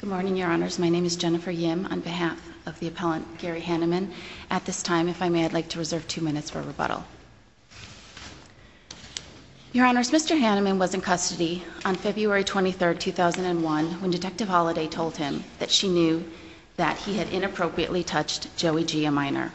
Good morning, Your Honors. My name is Jennifer Yim on behalf of the appellant Gary Hanneman. At this time, if I may, I'd like to reserve two minutes for rebuttal. Your Honors, Mr. Hanneman was in custody on February 23, 2001, when Detective Holliday told him that she knew that he had inappropriately touched Joey Gia Minor.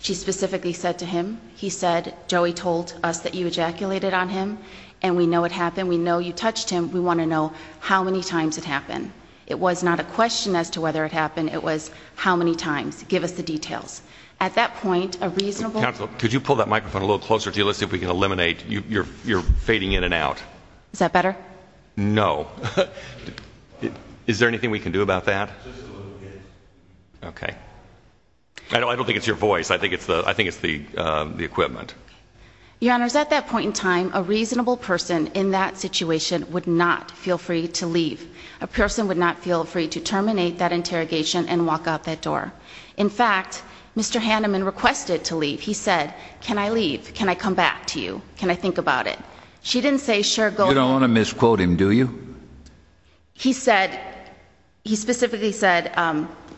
She specifically said to him, he said, Joey told us that you ejaculated on him, and we know it happened, we know you touched him, we want to know how many times it happened. It was not a question as to whether it happened, it was how many times, give us the details. At that point, a reasonable Counsel, could you pull that microphone a little closer to you, let's see if we can eliminate, you're fading in and out. Is that better? No. Is there anything we can do about that? Just a little bit. Okay. I don't think it's your voice, I think it's the equipment. Your Honors, at that point in time, a reasonable person in that situation would not feel free to leave. A person would not feel free to terminate that interrogation and walk out that door. In fact, Mr. Hanneman requested to leave. He said, can I leave? Can I come back to you? Can I think about it? You don't want to misquote him, do you? He said, he specifically said,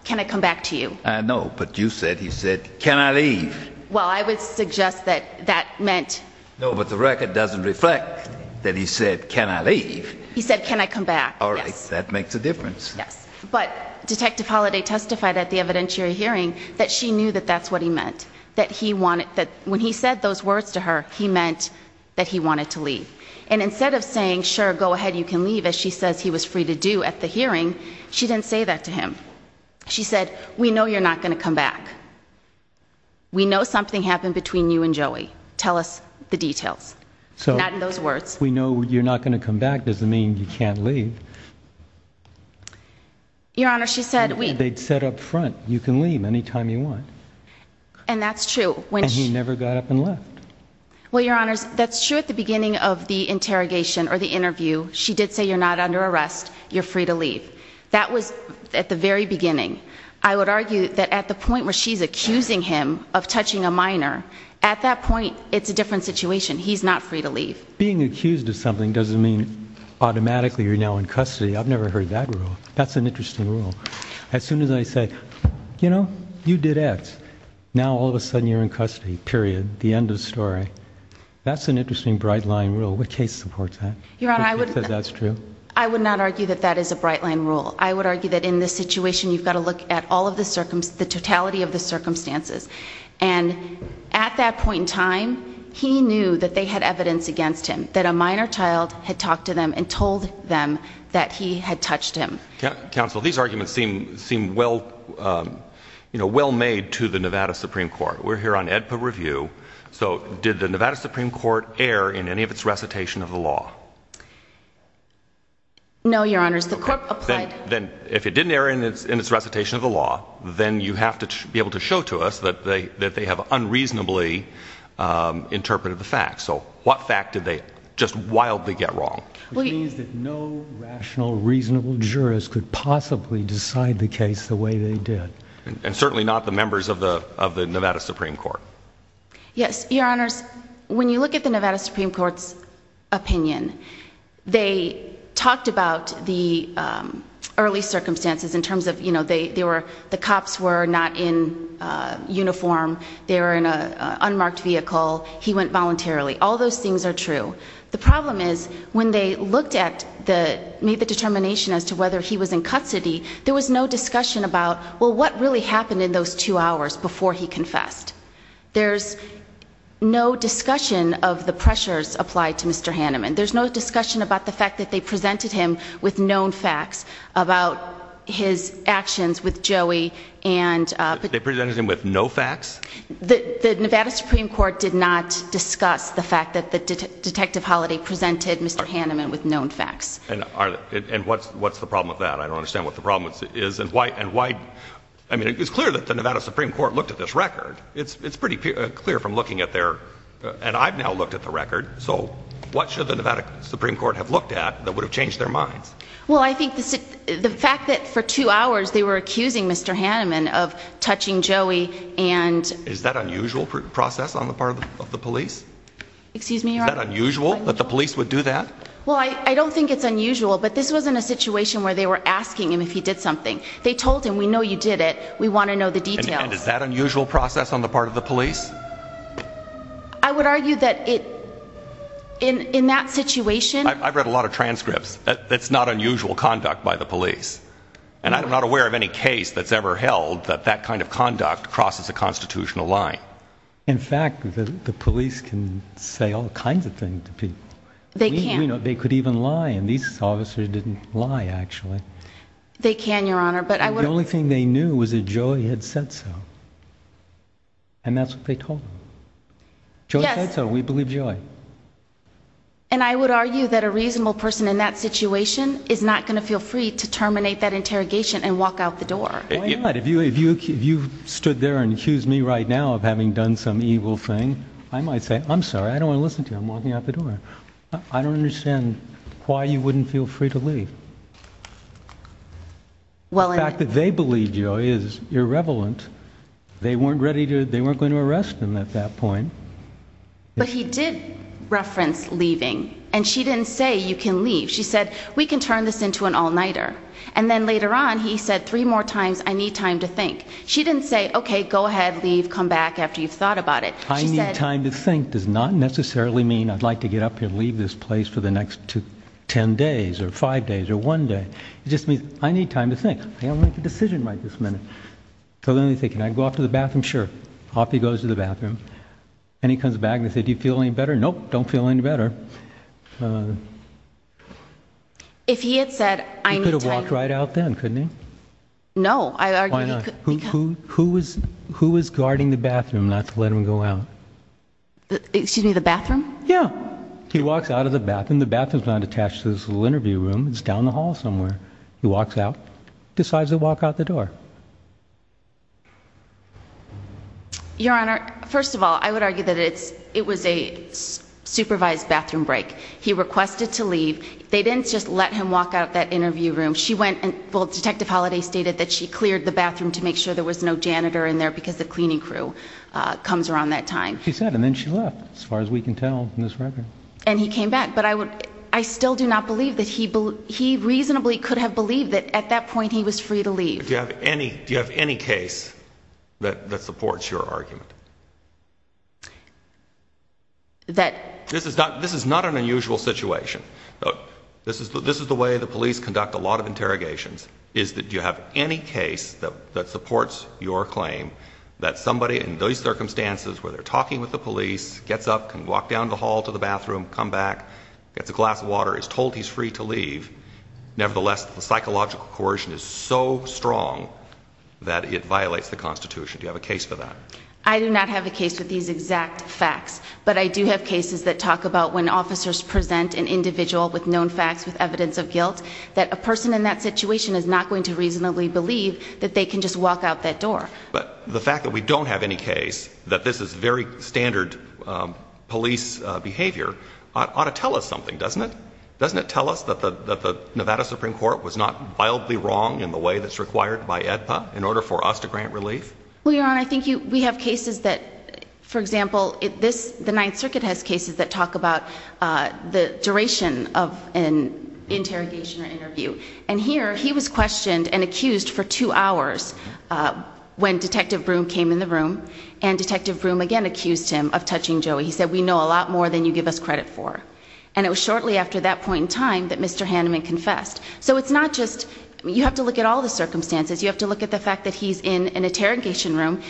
can I come back to you? I know, but you said, he said, can I leave? Well, I would suggest that that meant... No, but the record doesn't reflect that he said, can I leave? He said, can I come back? All right, that makes a difference. Yes, but Detective Holliday testified at the evidentiary hearing that she knew that that's what he meant, that he wanted, that when he said those words to her, he meant that he wanted to leave. And instead of saying, sure, go ahead, you can leave, as she says he was free to do at the hearing, she didn't say that to him. She said, we know you're not going to come back. We know something happened between you and Joey. Tell us the details. Not in those words. We know you're not going to come back doesn't mean you can't leave. Your Honors, she said... They said up front, you can leave any time you want. And that's true. And he never got up and left. Well, Your Honors, that's true at the beginning of the interrogation or the interview. She did say, you're not under arrest, you're free to leave. That was at the very beginning. I would argue that at the point where she's accusing him of touching a minor, at that point, it's a different situation. He's not free to leave. Being accused of something doesn't mean automatically you're now in custody. I've never heard that rule. That's an interesting rule. As soon as I say, you know, you did X, now all of a sudden you're in custody. Period. The end of the story. That's an interesting bright line rule. What case supports that? Your Honor, I would not argue that that is a bright line rule. I would argue that in this situation, you've got to look at the totality of the circumstances. And at that point in time, he knew that they had evidence against him. That a minor child had talked to them and told them that he had touched him. Counsel, these arguments seem well, you know, well made to the Nevada Supreme Court. We're here on EDPA review. So did the Nevada Supreme Court err in any of its recitation of the law? No, Your Honor, the court applied. Then if it didn't err in its recitation of the law, then you have to be able to show to us that they have unreasonably interpreted the facts. So what fact did they just wildly get wrong? Which means that no rational, reasonable jurist could possibly decide the case the way they did. And certainly not the members of the Nevada Supreme Court. Yes, Your Honors, when you look at the Nevada Supreme Court's opinion, they talked about the early circumstances in terms of, you know, the cops were not in uniform. They were in an unmarked vehicle. He went voluntarily. All those things are true. The problem is when they looked at the, made the determination as to whether he was in custody, there was no discussion about, well, what really happened in those two hours before he confessed? There's no discussion of the pressures applied to Mr. Hanneman. There's no discussion about the fact that they presented him with known facts about his actions with Joey and They presented him with no facts? The Nevada Supreme Court did not discuss the fact that Detective Holiday presented Mr. Hanneman with known facts. And what's the problem with that? I don't understand what the problem is. And why, I mean, it's clear that the Nevada Supreme Court looked at this record. It's pretty clear from looking at their, and I've now looked at the record. So what should the Nevada Supreme Court have looked at that would have changed their minds? Well, I think the fact that for two hours they were accusing Mr. Hanneman of touching Joey and Is that unusual process on the part of the police? Excuse me, Your Honor. Is that unusual that the police would do that? Well, I don't think it's unusual, but this wasn't a situation where they were asking him if he did something. They told him, we know you did it. We want to know the details. And is that unusual process on the part of the police? I would argue that it, in that situation I've read a lot of transcripts. That's not unusual conduct by the police. And I'm not aware of any case that's ever held that that kind of conduct crosses a constitutional line. In fact, the police can say all kinds of things to people. They can. They could even lie, and these officers didn't lie, actually. They can, Your Honor. The only thing they knew was that Joey had said so. And that's what they told him. Joey said so. We believe Joey. And I would argue that a reasonable person in that situation is not going to feel free to terminate that interrogation and walk out the door. Why not? If you stood there and accused me right now of having done some evil thing, I might say, I'm sorry, I don't want to listen to you. I'm walking out the door. I don't understand why you wouldn't feel free to leave. The fact that they believe Joey is irrevelant. They weren't going to arrest him at that point. But he did reference leaving, and she didn't say, you can leave. She said, we can turn this into an all-nighter. And then later on, he said three more times, I need time to think. She didn't say, okay, go ahead, leave, come back after you've thought about it. I need time to think does not necessarily mean I'd like to get up here and leave this place for the next ten days or five days or one day. It just means, I need time to think. I'm going to make a decision right this minute. So then they say, can I go out to the bathroom? Sure. Off he goes to the bathroom. And he comes back and they say, do you feel any better? Nope, don't feel any better. If he had said, I need time. He could have walked right out then, couldn't he? No. Why not? Who was guarding the bathroom not to let him go out? Excuse me, the bathroom? Yeah. He walks out of the bathroom. The bathroom's not attached to this little interview room. It's down the hall somewhere. He walks out, decides to walk out the door. Your Honor, first of all, I would argue that it was a supervised bathroom break. He requested to leave. They didn't just let him walk out that interview room. She went and, well, Detective Holliday stated that she cleared the bathroom to make sure there was no janitor in there because the cleaning crew comes around that time. She said, and then she left, as far as we can tell from this record. And he came back. I still do not believe that he reasonably could have believed that at that point he was free to leave. Do you have any case that supports your argument? This is not an unusual situation. This is the way the police conduct a lot of interrogations, is that you have any case that supports your claim that somebody in those circumstances where they're talking with the police gets up, can walk down the hall to the bathroom, come back, gets a glass of water, is told he's free to leave. Nevertheless, the psychological coercion is so strong that it violates the Constitution. Do you have a case for that? I do not have a case with these exact facts. But I do have cases that talk about when officers present an individual with known facts, with evidence of guilt, that a person in that situation is not going to reasonably believe that they can just walk out that door. But the fact that we don't have any case that this is very standard police behavior ought to tell us something, doesn't it? Doesn't it tell us that the Nevada Supreme Court was not wildly wrong in the way that's required by AEDPA in order for us to grant relief? Well, Your Honor, I think we have cases that, for example, the Ninth Circuit has cases that talk about the duration of an interrogation or interview. And here, he was questioned and accused for two hours when Detective Broom came in the room. And Detective Broom again accused him of touching Joey. He said, we know a lot more than you give us credit for. And it was shortly after that point in time that Mr. Hanneman confessed. So it's not just, you have to look at all the circumstances. You have to look at the fact that he's in an interrogation room,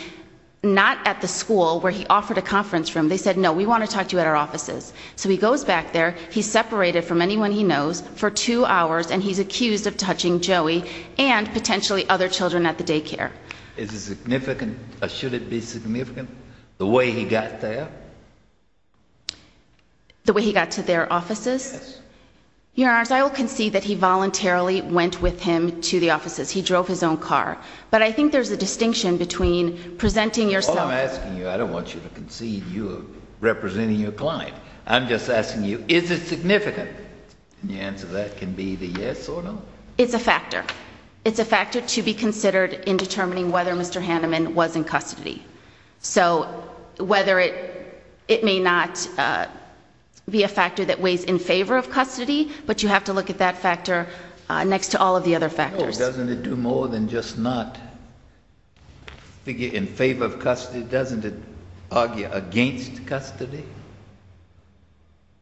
not at the school where he offered a conference room. They said, no, we want to talk to you at our offices. So he goes back there, he's separated from anyone he knows for two hours, and he's accused of touching Joey and potentially other children at the daycare. Is it significant, or should it be significant, the way he got there? The way he got to their offices? Yes. Your Honor, I will concede that he voluntarily went with him to the offices. He drove his own car. But I think there's a distinction between presenting yourself. All I'm asking you, I don't want you to concede you are representing your client. I'm just asking you, is it significant? The answer to that can be the yes or no. It's a factor. It's a factor to be considered in determining whether Mr. Hanneman was in custody. So whether it may not be a factor that weighs in favor of custody, but you have to look at that factor next to all of the other factors. No, doesn't it do more than just not figure in favor of custody? Doesn't it argue against custody?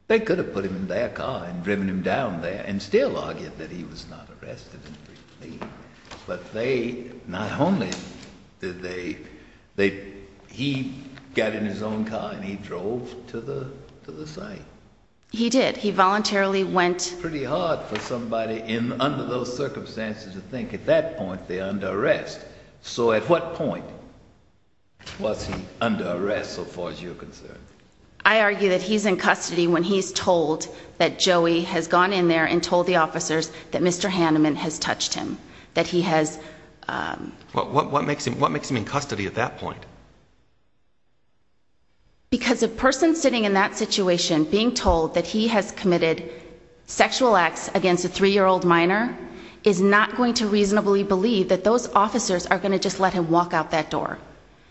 They could have put him in their car and driven him down there and still argue that he was not arrested and free to leave. But they, not only did they, he got in his own car and he drove to the site. He did. He voluntarily went. It's pretty hard for somebody under those circumstances to think at that point they're under arrest. So at what point was he under arrest so far as you're concerned? I argue that he's in custody when he's told that Joey has gone in there and told the officers that Mr. Hanneman has touched him, that he has... What makes him in custody at that point? Because a person sitting in that situation being told that he has committed sexual acts against a three-year-old minor is not going to reasonably believe that those officers are going to just let him walk out that door.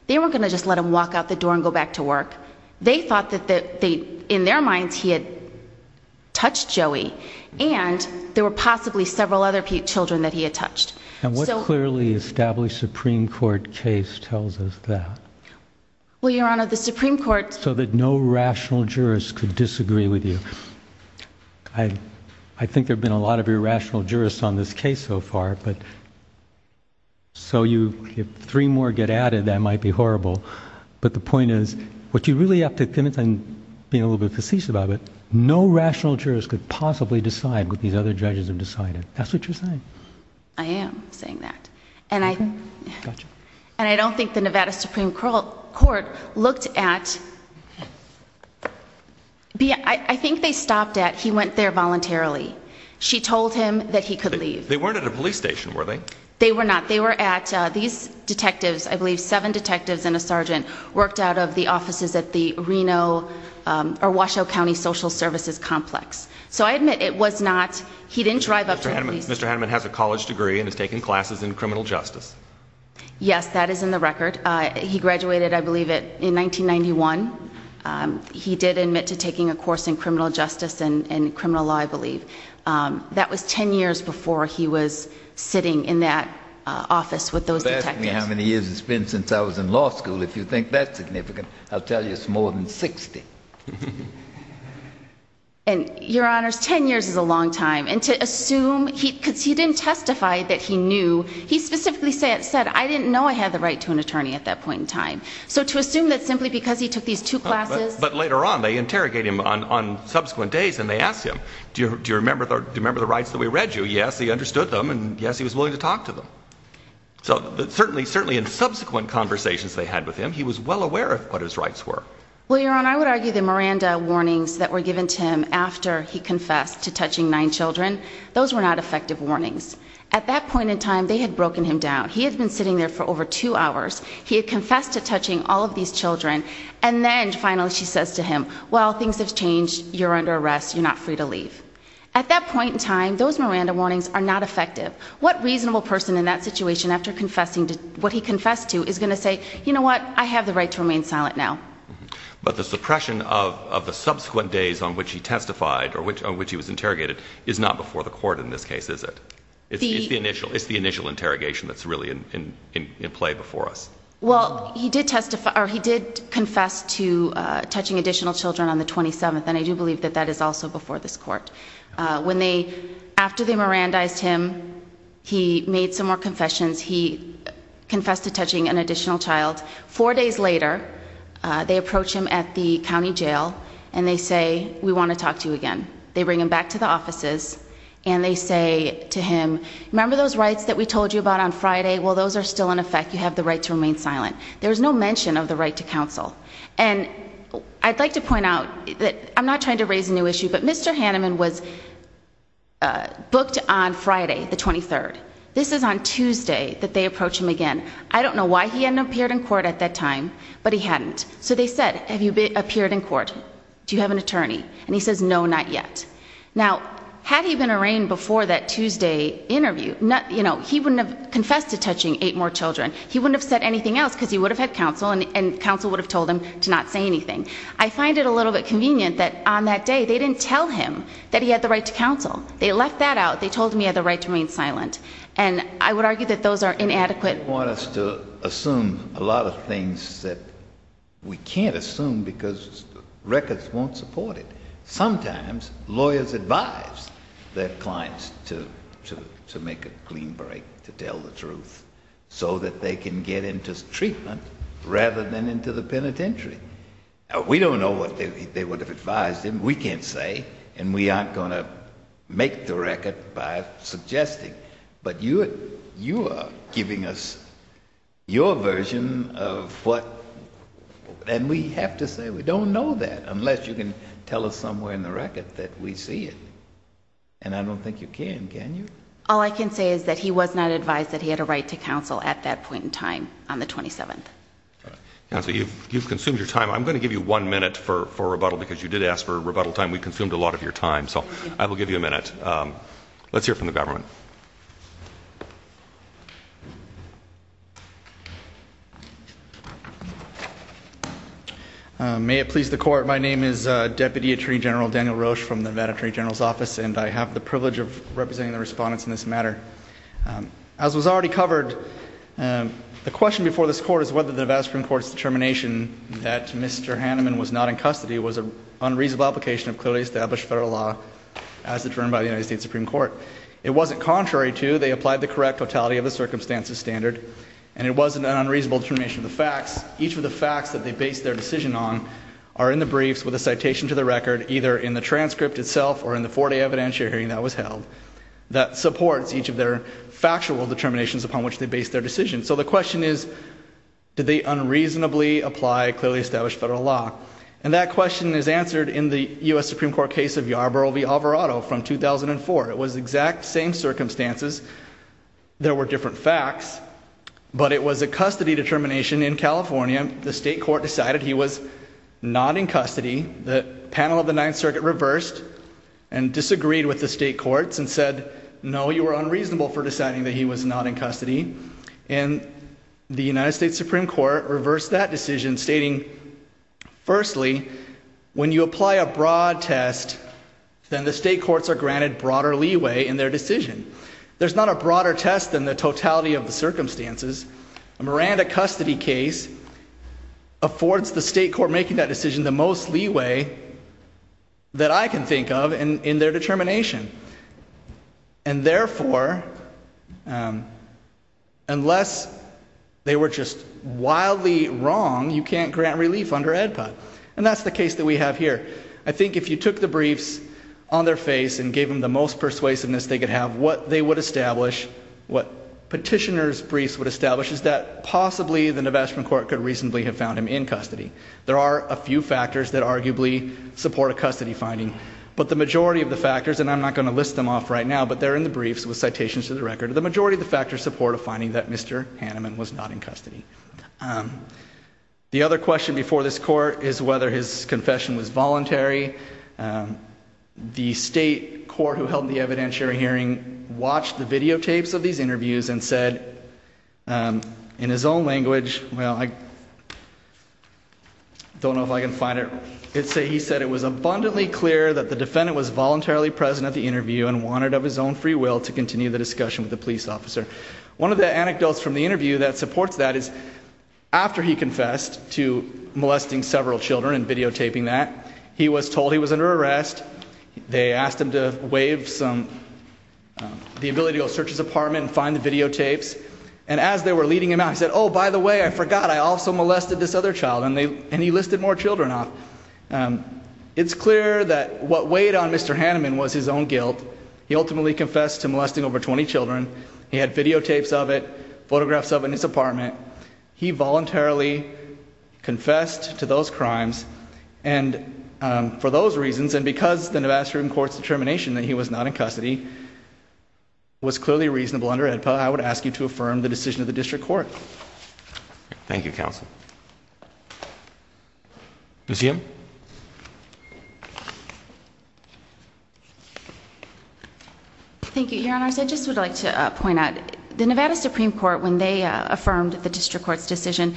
They weren't going to just let him walk out the door and go back to work. They thought that in their minds he had touched Joey and there were possibly several other children that he had touched. And what clearly established Supreme Court case tells us that? Well, Your Honor, the Supreme Court... So that no rational jurist could disagree with you. I think there have been a lot of irrational jurists on this case so far. So if three more get added, that might be horrible. But the point is, what you really have to convince... I'm being a little bit facetious about it. No rational jurist could possibly decide what these other judges have decided. That's what you're saying. I am saying that. And I don't think the Nevada Supreme Court looked at... I think they stopped at he went there voluntarily. She told him that he could leave. They weren't at a police station, were they? They were not. They were at these detectives, I believe seven detectives and a sergeant, worked out of the offices at the Reno or Washoe County Social Services Complex. So I admit it was not... he didn't drive up to the police... Mr. Hanneman has a college degree and has taken classes in criminal justice. Yes, that is in the record. He graduated, I believe, in 1991. He did admit to taking a course in criminal justice and criminal law, I believe. That was 10 years before he was sitting in that office with those detectives. You're asking me how many years it's been since I was in law school. If you think that's significant, I'll tell you it's more than 60. And, Your Honors, 10 years is a long time. And to assume... because he didn't testify that he knew. He specifically said, I didn't know I had the right to an attorney at that point in time. So to assume that simply because he took these two classes... But later on, they interrogate him on subsequent days and they ask him, Do you remember the rights that we read you? Yes, he understood them, and yes, he was willing to talk to them. So certainly in subsequent conversations they had with him, he was well aware of what his rights were. Well, Your Honor, I would argue the Miranda warnings that were given to him after he confessed to touching nine children, those were not effective warnings. At that point in time, they had broken him down. He had been sitting there for over two hours. He had confessed to touching all of these children. And then, finally, she says to him, Well, things have changed. You're under arrest. You're not free to leave. At that point in time, those Miranda warnings are not effective. What reasonable person in that situation, after confessing to what he confessed to, is going to say, You know what? I have the right to remain silent now. But, the suppression of the subsequent days on which he testified, or on which he was interrogated, is not before the court in this case, is it? It's the initial interrogation that's really in play before us. Well, he did confess to touching additional children on the 27th, and I do believe that that is also before this court. After they Mirandized him, he made some more confessions. He confessed to touching an additional child. Four days later, they approach him at the county jail and they say, We want to talk to you again. They bring him back to the offices, and they say to him, Remember those rights that we told you about on Friday? Well, those are still in effect. You have the right to remain silent. There was no mention of the right to counsel. And, I'd like to point out, I'm not trying to raise a new issue, but Mr. Hanneman was booked on Friday, the 23rd. This is on Tuesday that they approach him again. I don't know why he hadn't appeared in court at that time, but he hadn't. So they said, Have you appeared in court? Do you have an attorney? And he says, No, not yet. Now, had he been arraigned before that Tuesday interview, he wouldn't have confessed to touching eight more children. He wouldn't have said anything else because he would have had counsel, and counsel would have told him to not say anything. I find it a little bit convenient that on that day they didn't tell him that he had the right to counsel. They left that out. They told him he had the right to remain silent. And I would argue that those are inadequate. They want us to assume a lot of things that we can't assume because records won't support it. Sometimes lawyers advise their clients to make a clean break, to tell the truth, so that they can get into treatment rather than into the penitentiary. We don't know what they would have advised him. We can't say, and we aren't going to make the record by suggesting. But you are giving us your version of what, and we have to say we don't know that unless you can tell us somewhere in the record that we see it. And I don't think you can, can you? All I can say is that he was not advised that he had a right to counsel at that point in time on the 27th. Counsel, you've consumed your time. I'm going to give you one minute for rebuttal because you did ask for rebuttal time. And let's hear from the government. May it please the Court. My name is Deputy Attorney General Daniel Roche from the Nevada Attorney General's Office, and I have the privilege of representing the respondents in this matter. As was already covered, the question before this Court is whether the Nevada Supreme Court's determination that Mr. Hanneman was not in custody was an unreasonable application of clearly established federal law as determined by the United States Supreme Court. It wasn't contrary to. They applied the correct totality of the circumstances standard, and it wasn't an unreasonable determination of the facts. Each of the facts that they based their decision on are in the briefs with a citation to the record, either in the transcript itself or in the four-day evidentiary hearing that was held, that supports each of their factual determinations upon which they based their decision. So the question is, did they unreasonably apply clearly established federal law? And that question is answered in the U.S. Supreme Court case of Yarborough v. Alvarado from 2004. It was exact same circumstances. There were different facts, but it was a custody determination in California. The state court decided he was not in custody. The panel of the Ninth Circuit reversed and disagreed with the state courts and said, no, you were unreasonable for deciding that he was not in custody. And the United States Supreme Court reversed that decision, stating, firstly, when you apply a broad test, then the state courts are granted broader leeway in their decision. There's not a broader test than the totality of the circumstances. A Miranda custody case affords the state court making that decision the most leeway that I can think of in their determination. And therefore, unless they were just wildly wrong, you can't grant relief under EDPOT. And that's the case that we have here. I think if you took the briefs on their face and gave them the most persuasiveness they could have, what they would establish, what petitioner's briefs would establish, is that possibly the Navashman court could reasonably have found him in custody. There are a few factors that arguably support a custody finding. But the majority of the factors, and I'm not going to list them off right now, but they're in the briefs with citations to the record, the majority of the factors support a finding that Mr. Hanneman was not in custody. The other question before this court is whether his confession was voluntary. The state court who held the evidentiary hearing watched the videotapes of these interviews and said, in his own language, well, I don't know if I can find it. But he said it was abundantly clear that the defendant was voluntarily present at the interview and wanted of his own free will to continue the discussion with the police officer. One of the anecdotes from the interview that supports that is after he confessed to molesting several children and videotaping that, he was told he was under arrest. They asked him to waive the ability to go search his apartment and find the videotapes. And as they were leading him out, he said, oh, by the way, I forgot, I also molested this other child. And he listed more children off. It's clear that what weighed on Mr. Hanneman was his own guilt. He ultimately confessed to molesting over 20 children. He had videotapes of it, photographs of it in his apartment. He voluntarily confessed to those crimes. And for those reasons, and because the Nevada Supreme Court's determination that he was not in custody, was clearly reasonable under AEDPA, I would ask you to affirm the decision of the district court. Thank you, counsel. Ms. Yim. Thank you, Your Honors. I just would like to point out, the Nevada Supreme Court, when they affirmed the district court's decision,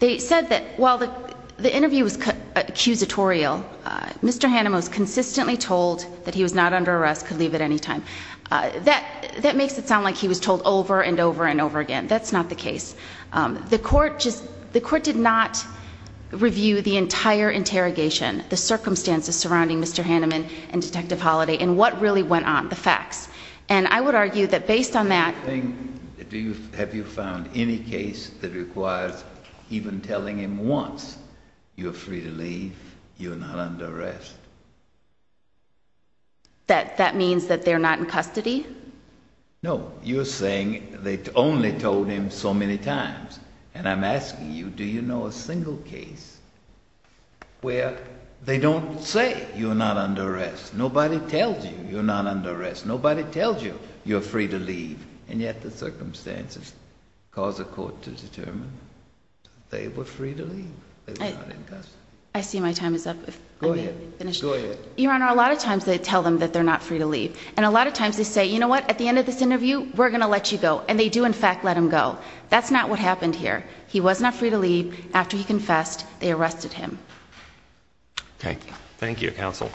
they said that while the interview was accusatorial, Mr. Hanneman was consistently told that he was not under arrest, could leave at any time. That makes it sound like he was told over and over and over again. That's not the case. The court did not review the entire interrogation, the circumstances surrounding Mr. Hanneman and Detective Holliday, and what really went on, the facts. And I would argue that based on that... Have you found any case that requires even telling him once, you're free to leave, you're not under arrest? That means that they're not in custody? No. You're saying they only told him so many times. And I'm asking you, do you know a single case where they don't say you're not under arrest? Nobody tells you you're not under arrest. Nobody tells you you're free to leave. And yet the circumstances cause a court to determine they were free to leave. I see my time is up. Go ahead. Your Honor, a lot of times they tell them that they're not free to leave. And a lot of times they say, you know what, at the end of this interview, we're going to let you go. And they do in fact let him go. That's not what happened here. He was not free to leave. After he confessed, they arrested him. Okay. Thank you, counsel.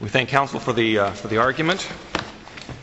We thank counsel for the argument.